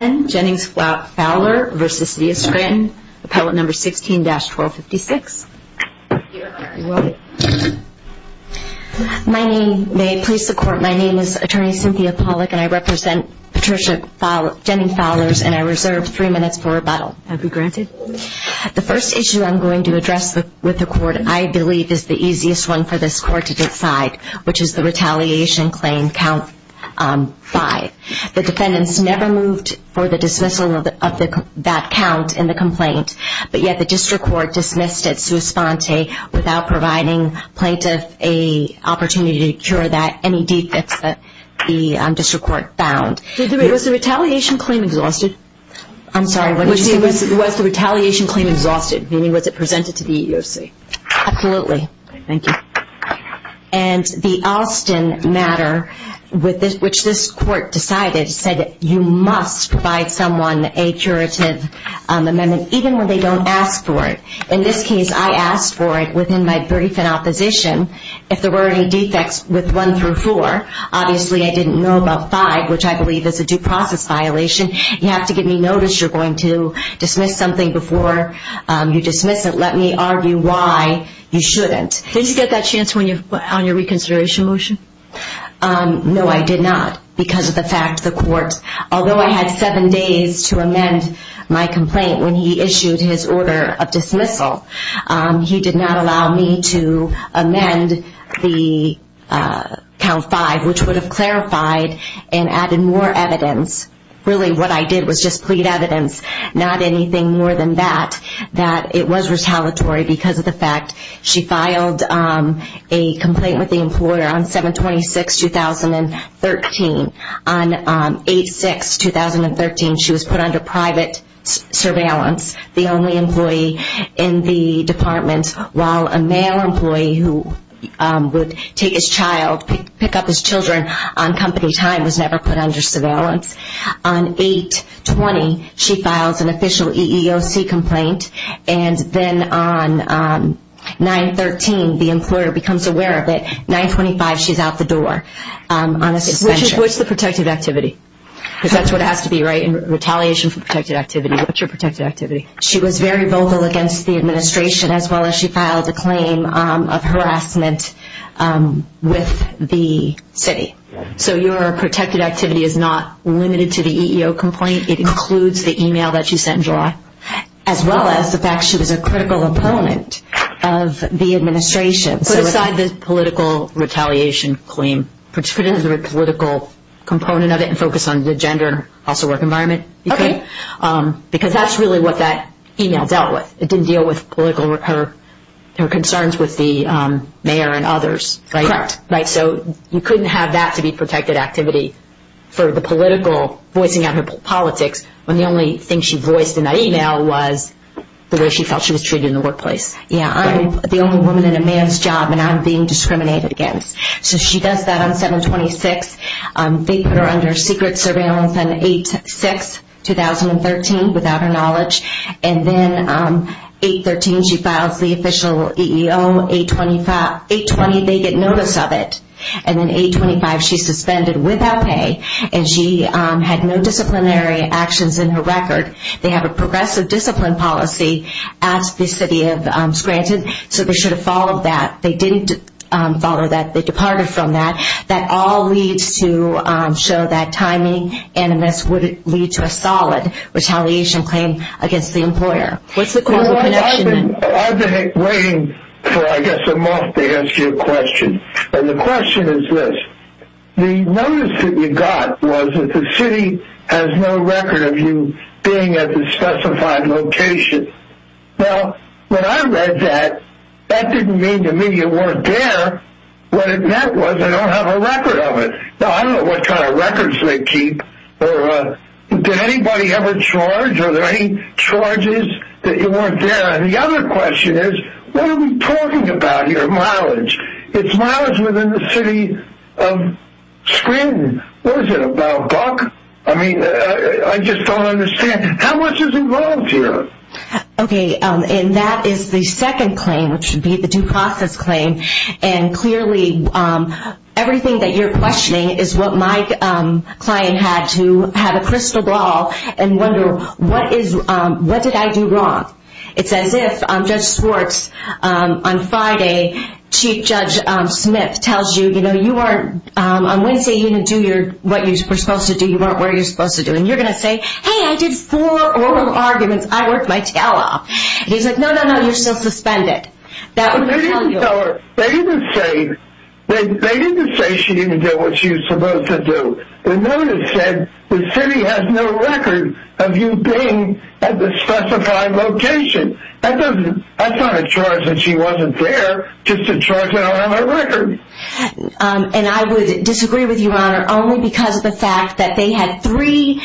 Appellate No. 16-1256 My name may please the Court. My name is Attorney Cynthia Pollack and I represent Patricia Jennings-Fowler and I reserve three minutes for rebuttal. The first issue I'm going to address with the Court, I believe, is the easiest one for this Court to decide, which is the retaliation claim, Count 5. The defendants never moved for the dismissal of that count in the complaint, but yet the District Court dismissed it sua sponte without providing plaintiff an opportunity to cure that any defects that the District Court found. Was the retaliation claim exhausted? I'm sorry, what did you say? Was the retaliation claim exhausted, meaning was it presented to the EEOC? Absolutely. Thank you. And the Alston matter, which this Court decided, said you must provide someone a curative amendment, even when they don't ask for it. In this case, I asked for it within my brief in opposition. If there were any defects with 1 through 4, obviously I didn't know about 5, which I believe is a due process violation. You have to give me notice you're going to dismiss something before you dismiss it. Let me argue why you shouldn't. Did you get that chance on your reconsideration motion? No, I did not, because of the fact the Court, although I had 7 days to amend my complaint when he issued his order of dismissal, he did not allow me to amend the Count 5, which would have clarified and added more evidence. Really, what I did was just plead evidence, not anything more than that, that it was retaliatory because of the fact she filed a complaint with the employer on 7-26-2013. On 8-6-2013, she was put under private surveillance, the only employee in the department, while a male employee who would take his child, pick up his children on company time was never put under surveillance. On 8-20, she files an official EEOC complaint, and then on 9-13, the employer becomes aware of it. On 9-25, she's out the door on a suspension. What's the protective activity? Because that's what it has to be, right? Retaliation for protected activity. What's your protected activity? She was very vocal against the administration, as well as she filed a claim of harassment with the city. So your protected activity is not limited to the EEOC complaint, it includes the email that you sent in July, as well as the fact she was a critical opponent of the administration. Put aside the political retaliation claim, put it as a political component of it and focus on the gender and also work environment. Okay. Because that's really what that email dealt with. It didn't deal with her concerns with the mayor and others. Correct. So you couldn't have that to be protected activity for the political, voicing out her politics, when the only thing she voiced in that email was the way she felt she was treated in the workplace. Yeah, I'm the only woman in a man's job and I'm being discriminated against. So she does that on 7-26. They put her under secret surveillance on 8-6, 2013, without her knowledge. And then 8-13, she files the official EEO. 8-20, they get notice of it. And then 8-25, she's suspended without pay and she had no disciplinary actions in her record. They have a progressive discipline policy at the city of Scranton, so they should have followed that. They didn't follow that. They departed from that. That all leads to show that timing and this would lead to a solid retaliation claim against the employer. What's the causal connection? I've been waiting for, I guess, a month to ask you a question. And the question is this. The notice that you got was that the city has no record of you being at the specified location. Now, when I read that, that didn't mean to me you weren't there. What it meant was I don't have a record of it. Now, I don't know what kind of records they keep. Did anybody ever charge? Are there any charges that you weren't there? It's miles within the city of Scranton. What is it, about buck? I mean, I just don't understand. How much is involved here? Okay, and that is the second claim, which would be the due process claim. And clearly, everything that you're questioning is what my client had to have a crystal ball and wonder, what did I do wrong? It's as if Judge Schwartz, on Friday, Chief Judge Smith tells you, you know, you weren't, on Wednesday, you didn't do what you were supposed to do. You weren't where you were supposed to do. And you're going to say, hey, I did four oral arguments. I worked my tail off. And he's like, no, no, no, you're still suspended. They didn't tell her. They didn't say she didn't do what she was supposed to do. The notice said the city has no record of you being at the specified location. That's not a charge that she wasn't there, just a charge that I don't have a record. And I would disagree with you, Your Honor, only because of the fact that they had three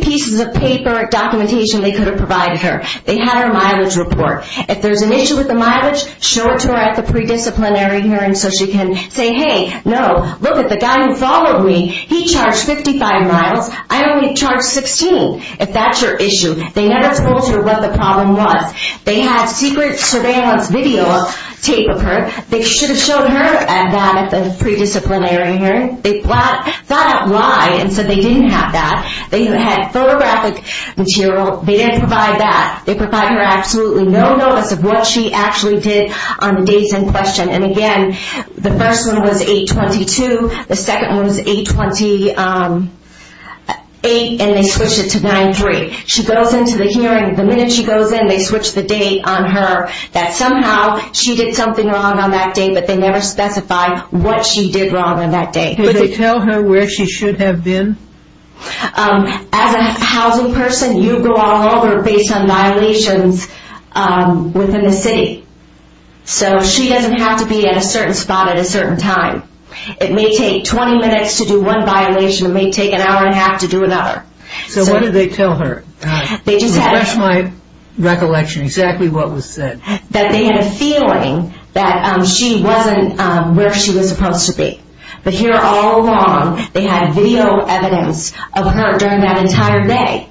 pieces of paper, documentation they could have provided her. They had her mileage report. If there's an issue with the mileage, show it to her at the pre-disciplinary hearing so she can say, hey, no, look at the guy who followed me. He charged 55 miles. I only charged 16, if that's your issue. They never told her what the problem was. They had secret surveillance video tape of her. They should have showed her that at the pre-disciplinary hearing. They thought out why and said they didn't have that. They had photographic material. They didn't provide that. They provided her absolutely no notice of what she actually did on the days in question. And, again, the first one was 8-22. The second one was 8-28, and they switched it to 9-3. She goes into the hearing. The minute she goes in, they switch the date on her that somehow she did something wrong on that day, but they never specified what she did wrong on that day. Did they tell her where she should have been? As a housing person, you go all over based on violations within the city. So she doesn't have to be at a certain spot at a certain time. It may take 20 minutes to do one violation. It may take an hour and a half to do another. So what did they tell her? To refresh my recollection, exactly what was said. That they had a feeling that she wasn't where she was supposed to be. But here all along, they had video evidence of her during that entire day.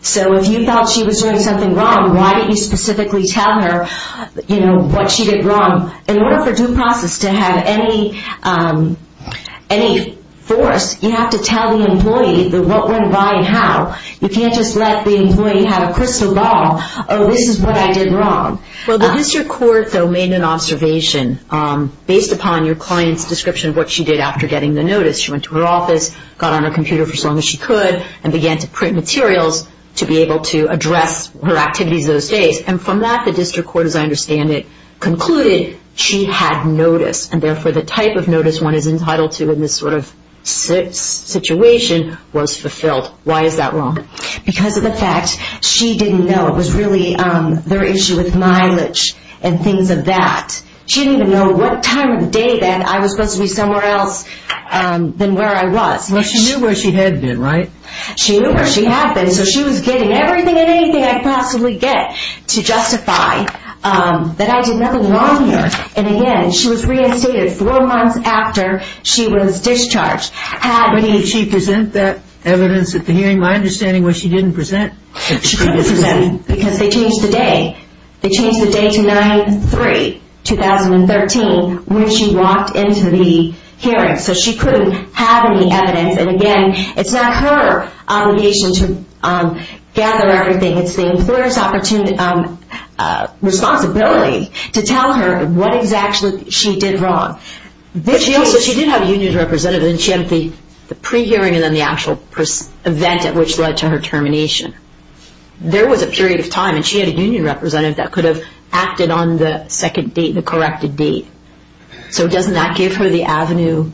So if you thought she was doing something wrong, why didn't you specifically tell her what she did wrong? In order for due process to have any force, you have to tell the employee what went by and how. You can't just let the employee have a crystal ball. Oh, this is what I did wrong. Well, the district court, though, made an observation based upon your client's description of what she did after getting the notice. She went to her office, got on her computer for as long as she could, and began to print materials to be able to address her activities those days. And from that, the district court, as I understand it, concluded she had notice. And therefore, the type of notice one is entitled to in this sort of situation was fulfilled. Why is that wrong? Because of the fact she didn't know. It was really their issue with mileage and things of that. She didn't even know what time of the day then I was supposed to be somewhere else than where I was. Well, she knew where she had been, right? She knew where she had been, so she was getting everything and anything I could possibly get to justify that I did nothing wrong here. And, again, she was reinstated four months after she was discharged. But did she present that evidence at the hearing? My understanding was she didn't present. Because they changed the day. They changed the day to 9-3, 2013, when she walked into the hearing. So she couldn't have any evidence. And, again, it's not her obligation to gather everything. It's the employer's responsibility to tell her what exactly she did wrong. So she did have a union representative, and she had the pre-hearing and then the actual event at which led to her termination. There was a period of time, and she had a union representative that could have acted on the second date, the corrected date. So doesn't that give her the avenue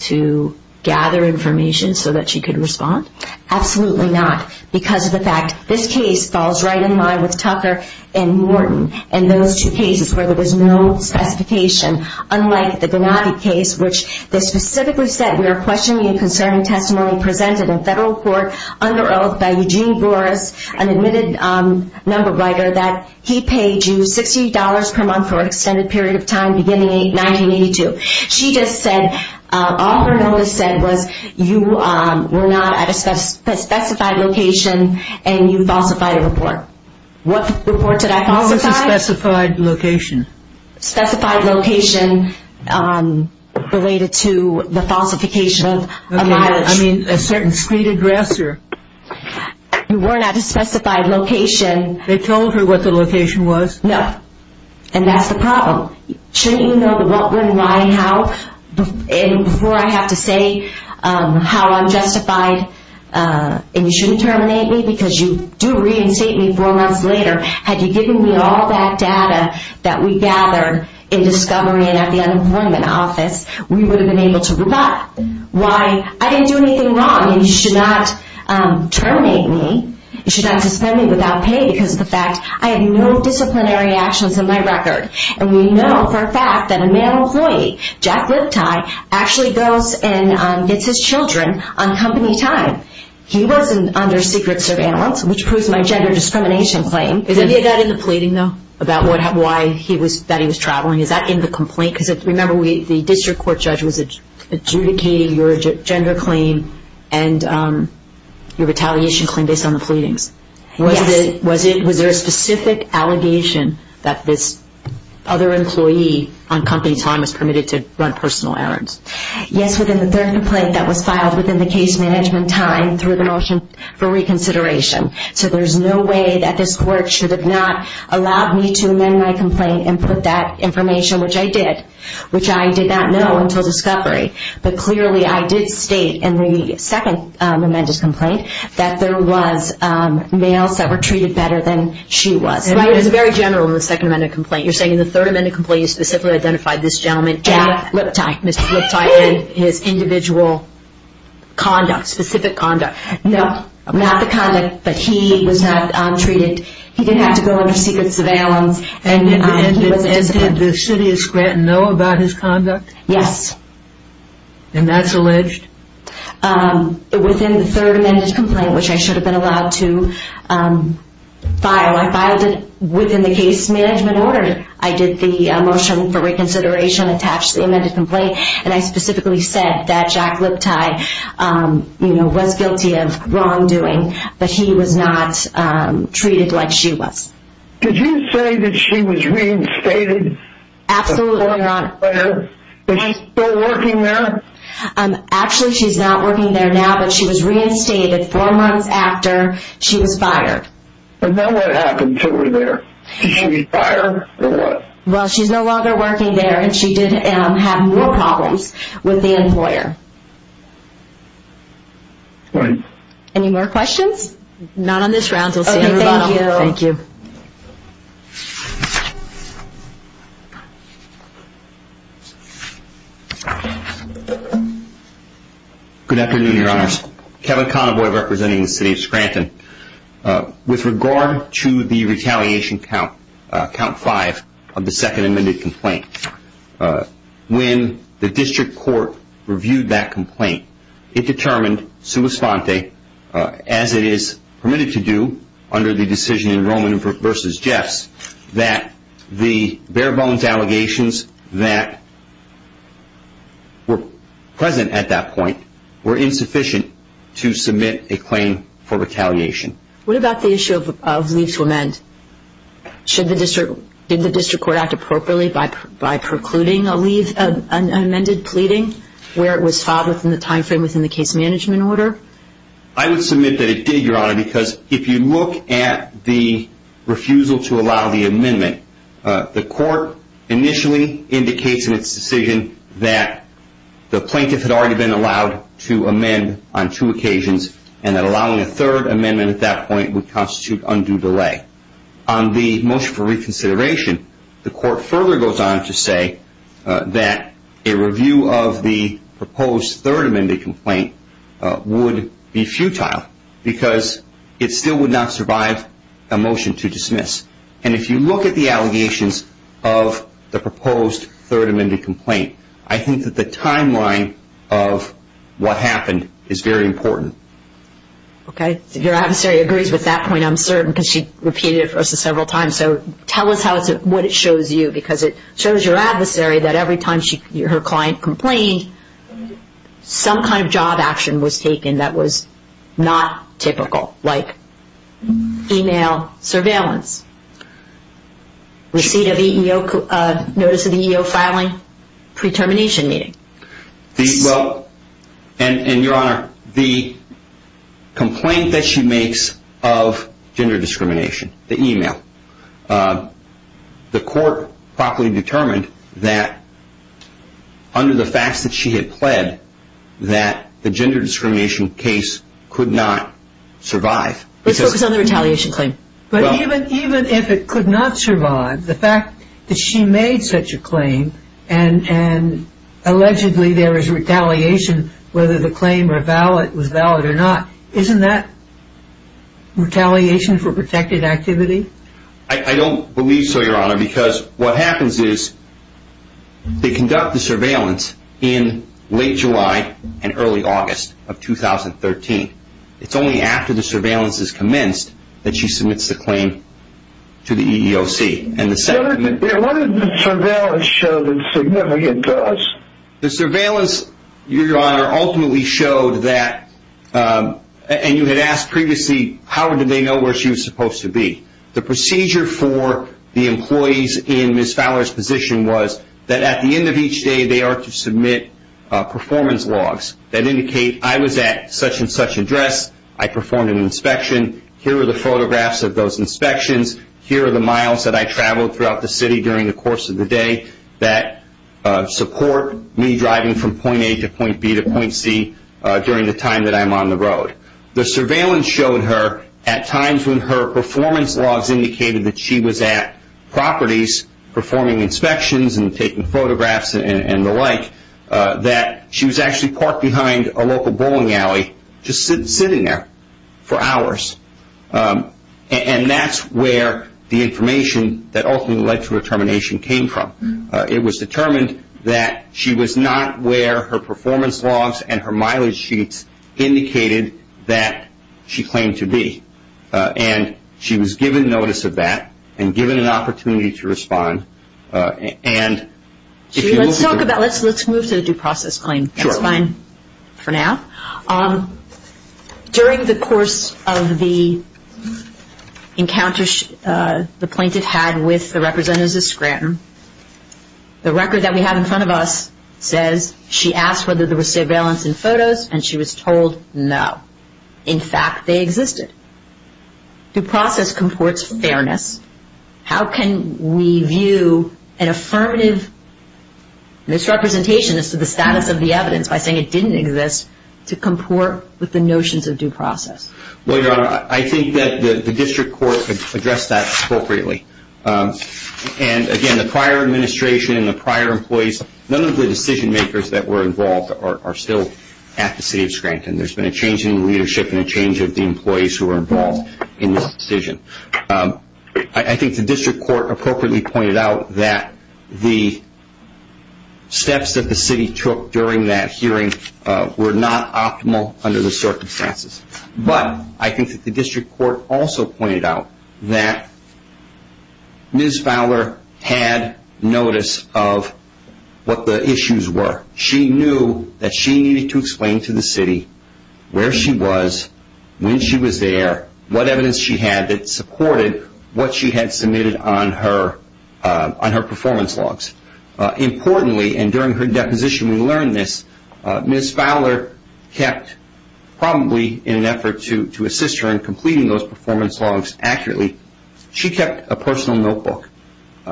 to gather information so that she could respond? Absolutely not, because of the fact this case falls right in line with Tucker and Morton and those two cases where there was no specification, unlike the Gennady case, which they specifically said, we are questioning a concerning testimony presented in federal court under oath by Eugene Boris, an admitted number writer, that he paid you $60 per month for an extended period of time beginning in 1982. She just said all her notice said was you were not at a specified location and you falsified a report. What report did I falsify? You were at a specified location. Specified location related to the falsification of a mileage. Okay, I mean a certain street address or... You were not at a specified location. They told her what the location was? No, and that's the problem. Shouldn't you know the what, when, why, how? And before I have to say how unjustified and you shouldn't terminate me because you do reinstate me four months later. Had you given me all that data that we gathered in discovery and at the unemployment office, we would have been able to rebut. Why? I didn't do anything wrong and you should not terminate me. You should not suspend me without pay because of the fact I have no disciplinary actions in my record. And we know for a fact that a male employee, Jack Lipti, actually goes and gets his children on company time. He wasn't under secret surveillance, which proves my gender discrimination claim. Is any of that in the pleading, though, about why he was traveling? Is that in the complaint? Because remember the district court judge was adjudicating your gender claim and your retaliation claim based on the pleadings. Yes. Was there a specific allegation that this other employee on company time was permitted to run personal errands? Yes, within the third complaint that was filed within the case management time through the motion for reconsideration. So there's no way that this court should have not allowed me to amend my complaint and put that information, which I did, which I did not know until discovery. But clearly I did state in the second amended complaint that there was males that were treated better than she was. It was very general in the second amended complaint. You're saying in the third amended complaint you specifically identified this gentleman, Jack Lipti. Mr. Lipti and his individual conduct, specific conduct. No, not the conduct, but he was not treated. He didn't have to go under secret surveillance. And did the city of Scranton know about his conduct? Yes. And that's alleged? Within the third amended complaint, which I should have been allowed to file, I filed it within the case management order. I did the motion for reconsideration attached to the amended complaint. And I specifically said that Jack Lipti, you know, was guilty of wrongdoing, but he was not treated like she was. Did you say that she was reinstated? Absolutely. Before and after? Is she still working there? Actually, she's not working there now, but she was reinstated four months after she was fired. And then what happened to her there? Did she retire or what? Well, she's no longer working there, and she did have more problems with the employer. Any more questions? Not on this round. We'll see you tomorrow. Thank you. Good afternoon, Your Honors. Kevin Connaboy representing the city of Scranton. With regard to the retaliation count, count five of the second amended complaint, when the district court reviewed that complaint, it determined, sua sponte, as it is permitted to do under the decision in Roman v. Jeffs, that the bare bones allegations that were present at that point were insufficient to submit a claim for retaliation. What about the issue of leave to amend? Did the district court act appropriately by precluding a leave, an amended pleading, where it was filed within the time frame within the case management order? I would submit that it did, Your Honor, because if you look at the refusal to allow the amendment, the court initially indicates in its decision that the plaintiff had already been allowed to amend on two occasions and that allowing a third amendment at that point would constitute undue delay. On the motion for reconsideration, the court further goes on to say that a review of the proposed third amended complaint would be futile because it still would not survive a motion to dismiss. And if you look at the allegations of the proposed third amended complaint, I think that the timeline of what happened is very important. Okay. Your adversary agrees with that point, I'm certain, because she repeated it for us several times. So tell us what it shows you, because it shows your adversary that every time her client complained, some kind of job action was taken that was not typical, like email surveillance, receipt of notice of EEO filing, pre-termination meeting. Well, and Your Honor, the complaint that she makes of gender discrimination, the email, the court properly determined that under the facts that she had pled that the gender discrimination case could not survive. Let's focus on the retaliation claim. But even if it could not survive, the fact that she made such a claim and allegedly there was retaliation whether the claim was valid or not, isn't that retaliation for protected activity? I don't believe so, Your Honor, because what happens is they conduct the surveillance in late July and early August of 2013. It's only after the surveillance is commenced that she submits the claim to the EEOC. What did the surveillance show that's significant to us? The surveillance, Your Honor, ultimately showed that, and you had asked previously, how did they know where she was supposed to be? The procedure for the employees in Ms. Fowler's position was that at the end of each day they are to submit performance logs that indicate I was at such and such address, I performed an inspection, here are the photographs of those inspections, here are the miles that I traveled throughout the city during the course of the day that support me driving from point A to point B to point C during the time that I'm on the road. The surveillance showed her at times when her performance logs indicated that she was at properties performing inspections and taking photographs and the like, that she was actually parked behind a local bowling alley just sitting there for hours. And that's where the information that ultimately led to her termination came from. It was determined that she was not where her performance logs and her mileage sheets indicated that she claimed to be. And she was given notice of that and given an opportunity to respond. Let's move to the due process claim. That's fine for now. During the course of the encounter the plaintiff had with the representatives of Scranton, the record that we have in front of us says she asked whether there was surveillance in photos and she was told no. In fact, they existed. Due process comports fairness. How can we view an affirmative misrepresentation as to the status of the evidence by saying it didn't exist to comport with the notions of due process? Well, Your Honor, I think that the district court addressed that appropriately. And again, the prior administration and the prior employees, none of the decision makers that were involved are still at the city of Scranton. And there's been a change in leadership and a change of the employees who were involved in this decision. I think the district court appropriately pointed out that the steps that the city took during that hearing were not optimal under the circumstances. But I think that the district court also pointed out that Ms. Fowler had notice of what the issues were. She knew that she needed to explain to the city where she was, when she was there, what evidence she had that supported what she had submitted on her performance logs. Importantly, and during her deposition we learned this, Ms. Fowler kept probably in an effort to assist her in completing those performance logs accurately, she kept a personal notebook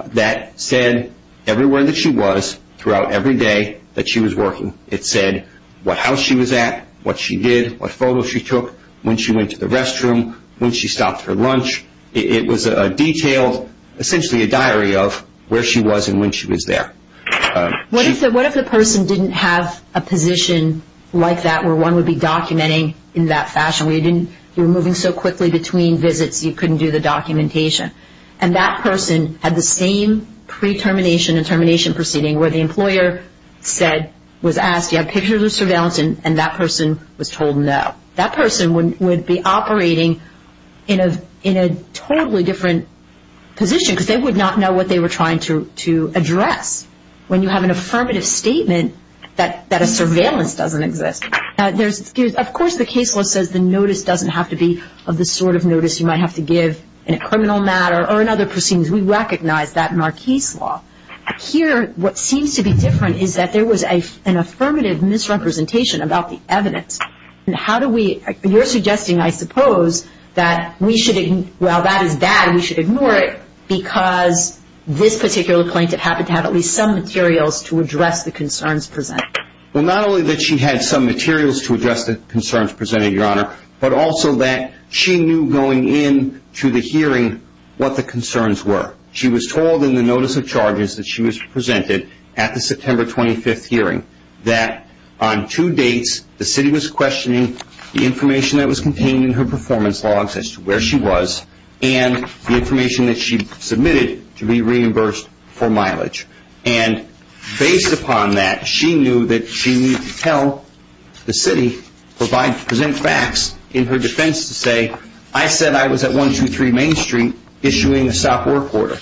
that said everywhere that she was throughout every day that she was working. It said what house she was at, what she did, what photo she took, when she went to the restroom, when she stopped for lunch. It was a detailed, essentially a diary of where she was and when she was there. What if the person didn't have a position like that where one would be documenting in that fashion? You were moving so quickly between visits you couldn't do the documentation. And that person had the same pre-termination and termination proceeding where the employer was asked, do you have pictures of surveillance? And that person was told no. That person would be operating in a totally different position because they would not know what they were trying to address when you have an affirmative statement that a surveillance doesn't exist. Of course the case law says the notice doesn't have to be of the sort of notice you might have to give in a criminal matter or in other proceedings. We recognize that in our case law. Here what seems to be different is that there was an affirmative misrepresentation about the evidence. You're suggesting, I suppose, that while that is bad we should ignore it because this particular plaintiff happened to have at least some materials to address the concerns presented. Well, not only that she had some materials to address the concerns presented, Your Honor, but also that she knew going into the hearing what the concerns were. She was told in the notice of charges that she was presented at the September 25th hearing that on two dates the city was questioning the information that was contained in her performance logs as to where she was and the information that she submitted to be reimbursed for mileage. And based upon that she knew that she needed to tell the city to present facts in her defense to say, I said I was at 123 Main Street issuing a stop work order.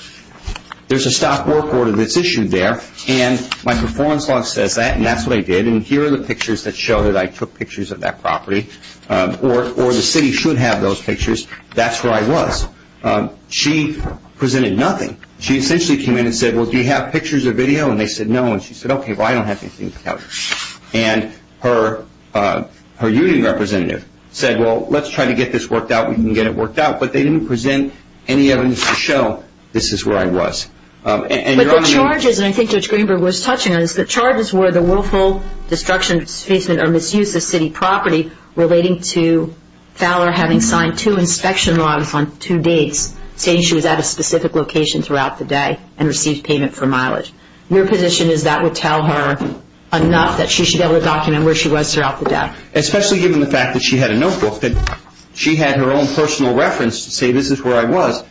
There's a stop work order that's issued there and my performance log says that and that's what I did and here are the pictures that show that I took pictures of that property. Or the city should have those pictures. That's where I was. She presented nothing. She essentially came in and said, well, do you have pictures or video? And they said no. And she said, okay, well, I don't have anything to tell you. And her union representative said, well, let's try to get this worked out. We can get it worked out. But they didn't present any evidence to show this is where I was. But the charges, and I think Judge Greenberg was touching on this, the charges were the willful destruction, displacement, or misuse of city property relating to Fowler having signed two inspection logs on two dates, saying she was at a specific location throughout the day and received payment for mileage. Your position is that would tell her enough that she should be able to document where she was throughout the day? Especially given the fact that she had a notebook that she had her own personal reference to say this is where I was.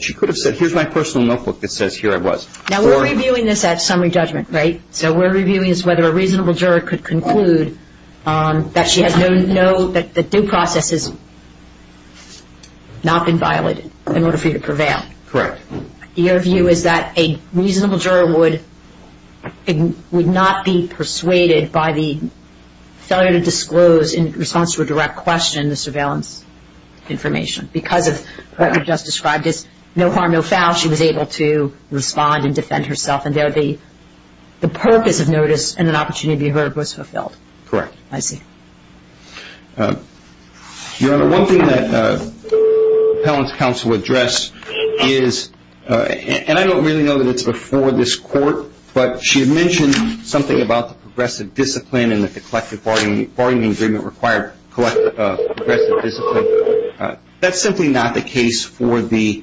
She could have said, here's my personal notebook that says here I was. Now, we're reviewing this at summary judgment, right? So we're reviewing this whether a reasonable juror could conclude that she has no, that due process has not been violated in order for you to prevail. Correct. Your view is that a reasonable juror would not be persuaded by the failure to disclose in response to a direct question the surveillance information because of what you just described as no harm, no foul. She was able to respond and defend herself. And there the purpose of notice and an opportunity to be heard was fulfilled. Correct. I see. Your Honor, one thing that appellant's counsel addressed is, and I don't really know that it's before this court, but she mentioned something about the progressive discipline and that the collective bargaining agreement required progressive discipline. That's simply not the case for the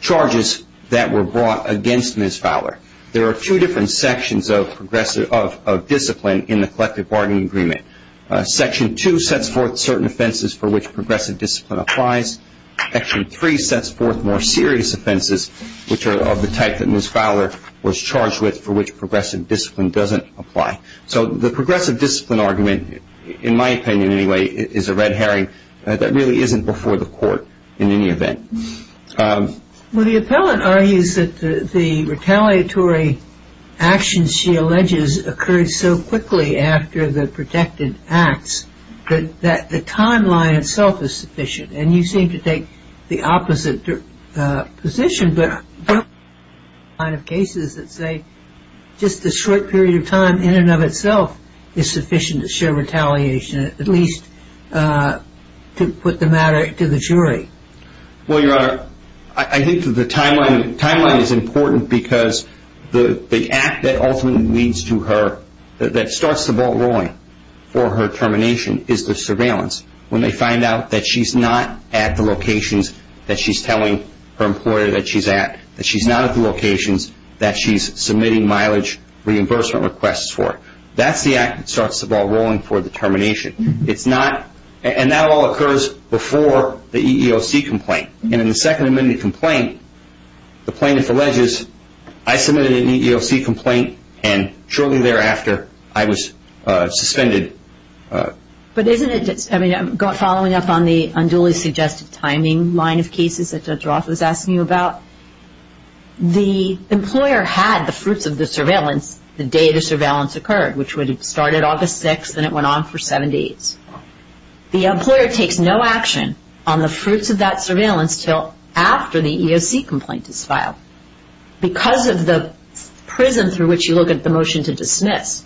charges that were brought against Ms. Fowler. There are two different sections of discipline in the collective bargaining agreement. Section 2 sets forth certain offenses for which progressive discipline applies. Section 3 sets forth more serious offenses, which are of the type that Ms. Fowler was charged with, for which progressive discipline doesn't apply. So the progressive discipline argument, in my opinion anyway, is a red herring that really isn't before the court in any event. Well, the appellant argues that the retaliatory actions she alleges occurred so quickly after the protected acts that the timeline itself is sufficient. And you seem to take the opposite position. There are cases that say just the short period of time in and of itself is sufficient to show retaliation, at least to put the matter to the jury. Well, Your Honor, I think the timeline is important because the act that ultimately leads to her, that starts the ball rolling for her termination, is the surveillance. When they find out that she's not at the locations that she's telling her employer that she's at, that she's not at the locations that she's submitting mileage reimbursement requests for. That's the act that starts the ball rolling for the termination. And that all occurs before the EEOC complaint. And in the Second Amendment complaint, the plaintiff alleges, I submitted an EEOC complaint and shortly thereafter I was suspended. But isn't it, I mean, following up on the unduly suggestive timing line of cases that Judge Roth was asking you about, the employer had the fruits of the surveillance the day the surveillance occurred, which would have started August 6th and it went on for seven days. The employer takes no action on the fruits of that surveillance until after the EEOC complaint is filed. Because of the prism through which you look at the motion to dismiss,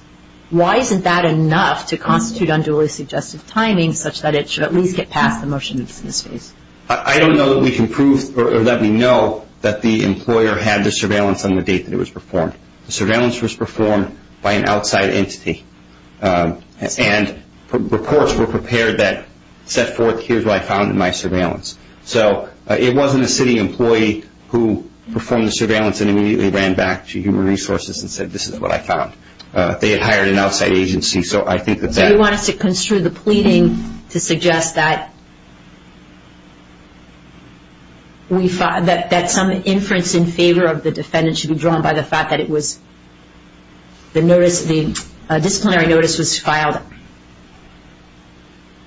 why isn't that enough to constitute unduly suggestive timing such that it should at least get past the motion to dismiss? I don't know that we can prove or let me know that the employer had the surveillance on the date that it was performed. The surveillance was performed by an outside entity. And reports were prepared that set forth, here's what I found in my surveillance. So it wasn't a city employee who performed the surveillance and immediately ran back to human resources and said, this is what I found. They had hired an outside agency. So I think that's it. You want us to construe the pleading to suggest that some inference in favor of the defendant should be drawn by the fact that the disciplinary notice was filed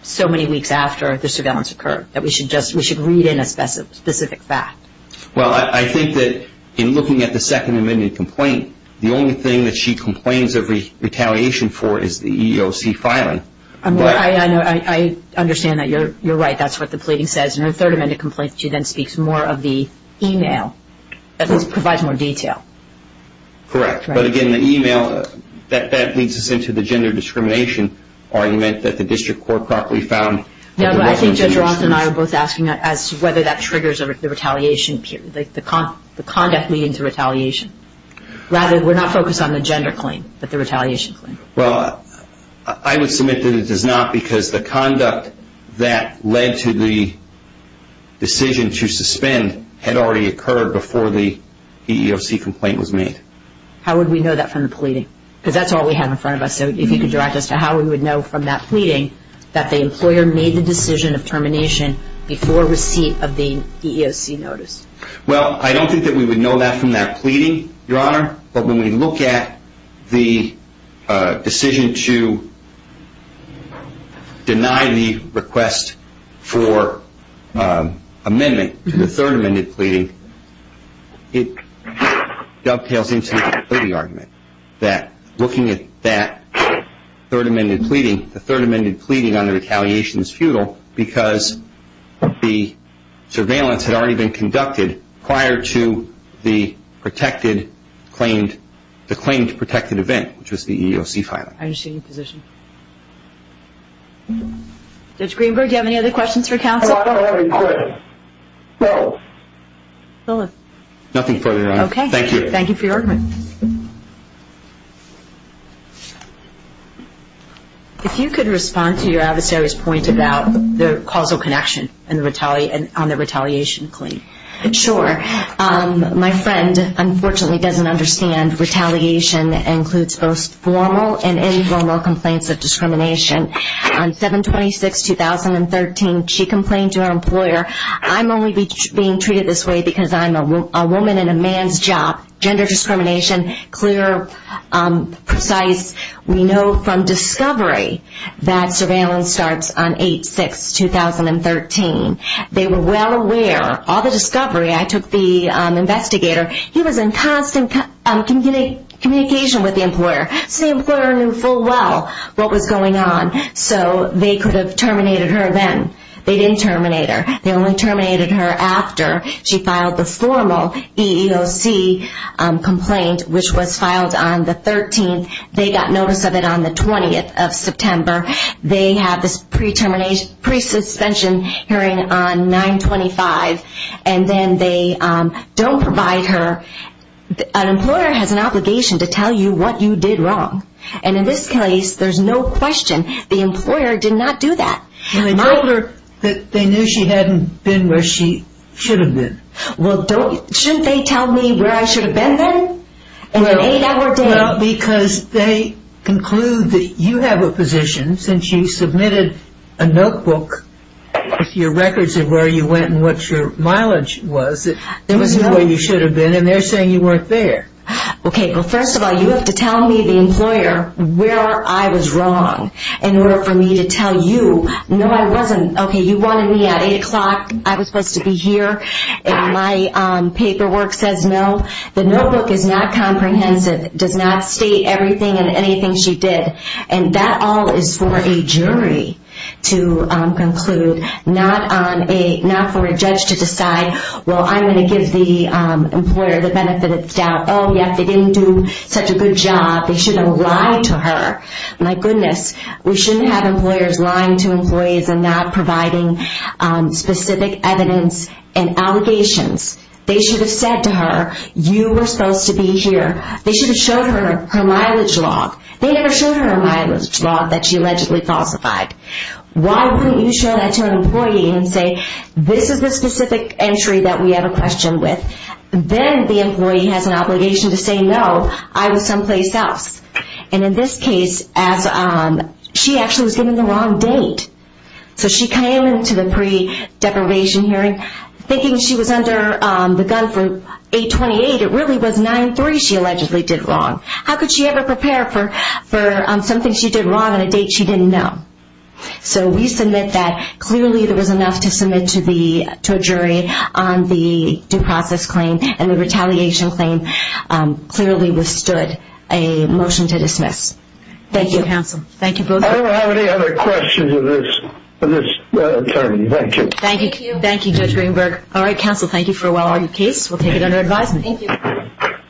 so many weeks after the surveillance occurred, that we should read in a specific fact. Well, I think that in looking at the Second Amendment complaint, the only thing that she complains of retaliation for is the EEOC filing. I understand that. You're right. That's what the pleading says. In the Third Amendment complaint, she then speaks more of the e-mail. It provides more detail. Correct. But again, the e-mail, that leads us into the gender discrimination argument that the district court properly found. I think Judge Ross and I are both asking whether that triggers the retaliation period, the conduct leading to retaliation. Rather, we're not focused on the gender claim, but the retaliation claim. Well, I would submit that it does not because the conduct that led to the decision to suspend had already occurred before the EEOC complaint was made. How would we know that from the pleading? Because that's all we have in front of us. So if you could direct us to how we would know from that pleading that the employer made the decision of termination before receipt of the EEOC notice. Well, I don't think that we would know that from that pleading, Your Honor. But when we look at the decision to deny the request for amendment to the Third Amendment pleading, it dovetails into the argument that looking at that Third Amendment pleading, the Third Amendment pleading on the retaliation is futile because the surveillance had already been conducted prior to the claimed protected event, which was the EEOC filing. I understand your position. Judge Greenberg, do you have any other questions for counsel? No. Nothing further, Your Honor. Okay. Thank you. Thank you for your argument. If you could respond to your adversary's point about the causal connection on the retaliation claim. Sure. My friend unfortunately doesn't understand retaliation includes both formal and informal complaints of discrimination. On 7-26-2013, she complained to her employer, I'm only being treated this way because I'm a woman in a man's job. Gender discrimination, clear, precise. We know from discovery that surveillance starts on 8-6-2013. They were well aware. All the discovery, I took the investigator, he was in constant communication with the employer. So the employer knew full well what was going on. So they could have terminated her then. They didn't terminate her. They only terminated her after she filed the formal EEOC complaint, which was filed on the 13th. They got notice of it on the 20th of September. They have this pre-suspension hearing on 9-25, and then they don't provide her. An employer has an obligation to tell you what you did wrong. And in this case, there's no question. The employer did not do that. They told her that they knew she hadn't been where she should have been. Well, shouldn't they tell me where I should have been then? Well, because they conclude that you have a position since you submitted a notebook with your records of where you went and what your mileage was. There wasn't where you should have been, and they're saying you weren't there. Okay. Well, first of all, you have to tell me, the employer, where I was wrong in order for me to tell you. No, I wasn't. Okay, you wanted me at 8 o'clock. I was supposed to be here, and my paperwork says no. The notebook is not comprehensive. It does not state everything and anything she did. And that all is for a jury to conclude, not for a judge to decide, well, I'm going to give the employer the benefit of the doubt. Oh, yes, they didn't do such a good job. They should have lied to her. My goodness. We shouldn't have employers lying to employees and not providing specific evidence and allegations. They should have said to her, you were supposed to be here. They should have showed her her mileage log. They never showed her a mileage log that she allegedly falsified. Why wouldn't you show that to an employee and say, this is the specific entry that we have a question with. Then the employee has an obligation to say, no, I was someplace else. And in this case, she actually was given the wrong date. So she came into the pre-deprivation hearing thinking she was under the gun for 8-28. It really was 9-3 she allegedly did wrong. How could she ever prepare for something she did wrong on a date she didn't know? So we submit that clearly there was enough to submit to a jury on the due process claim and the retaliation claim clearly withstood a motion to dismiss. Thank you, counsel. Thank you both. I don't have any other questions of this term. Thank you. Thank you, Judge Greenberg. All right, counsel, thank you for a well-argued case. We'll take it under advisement. Thank you.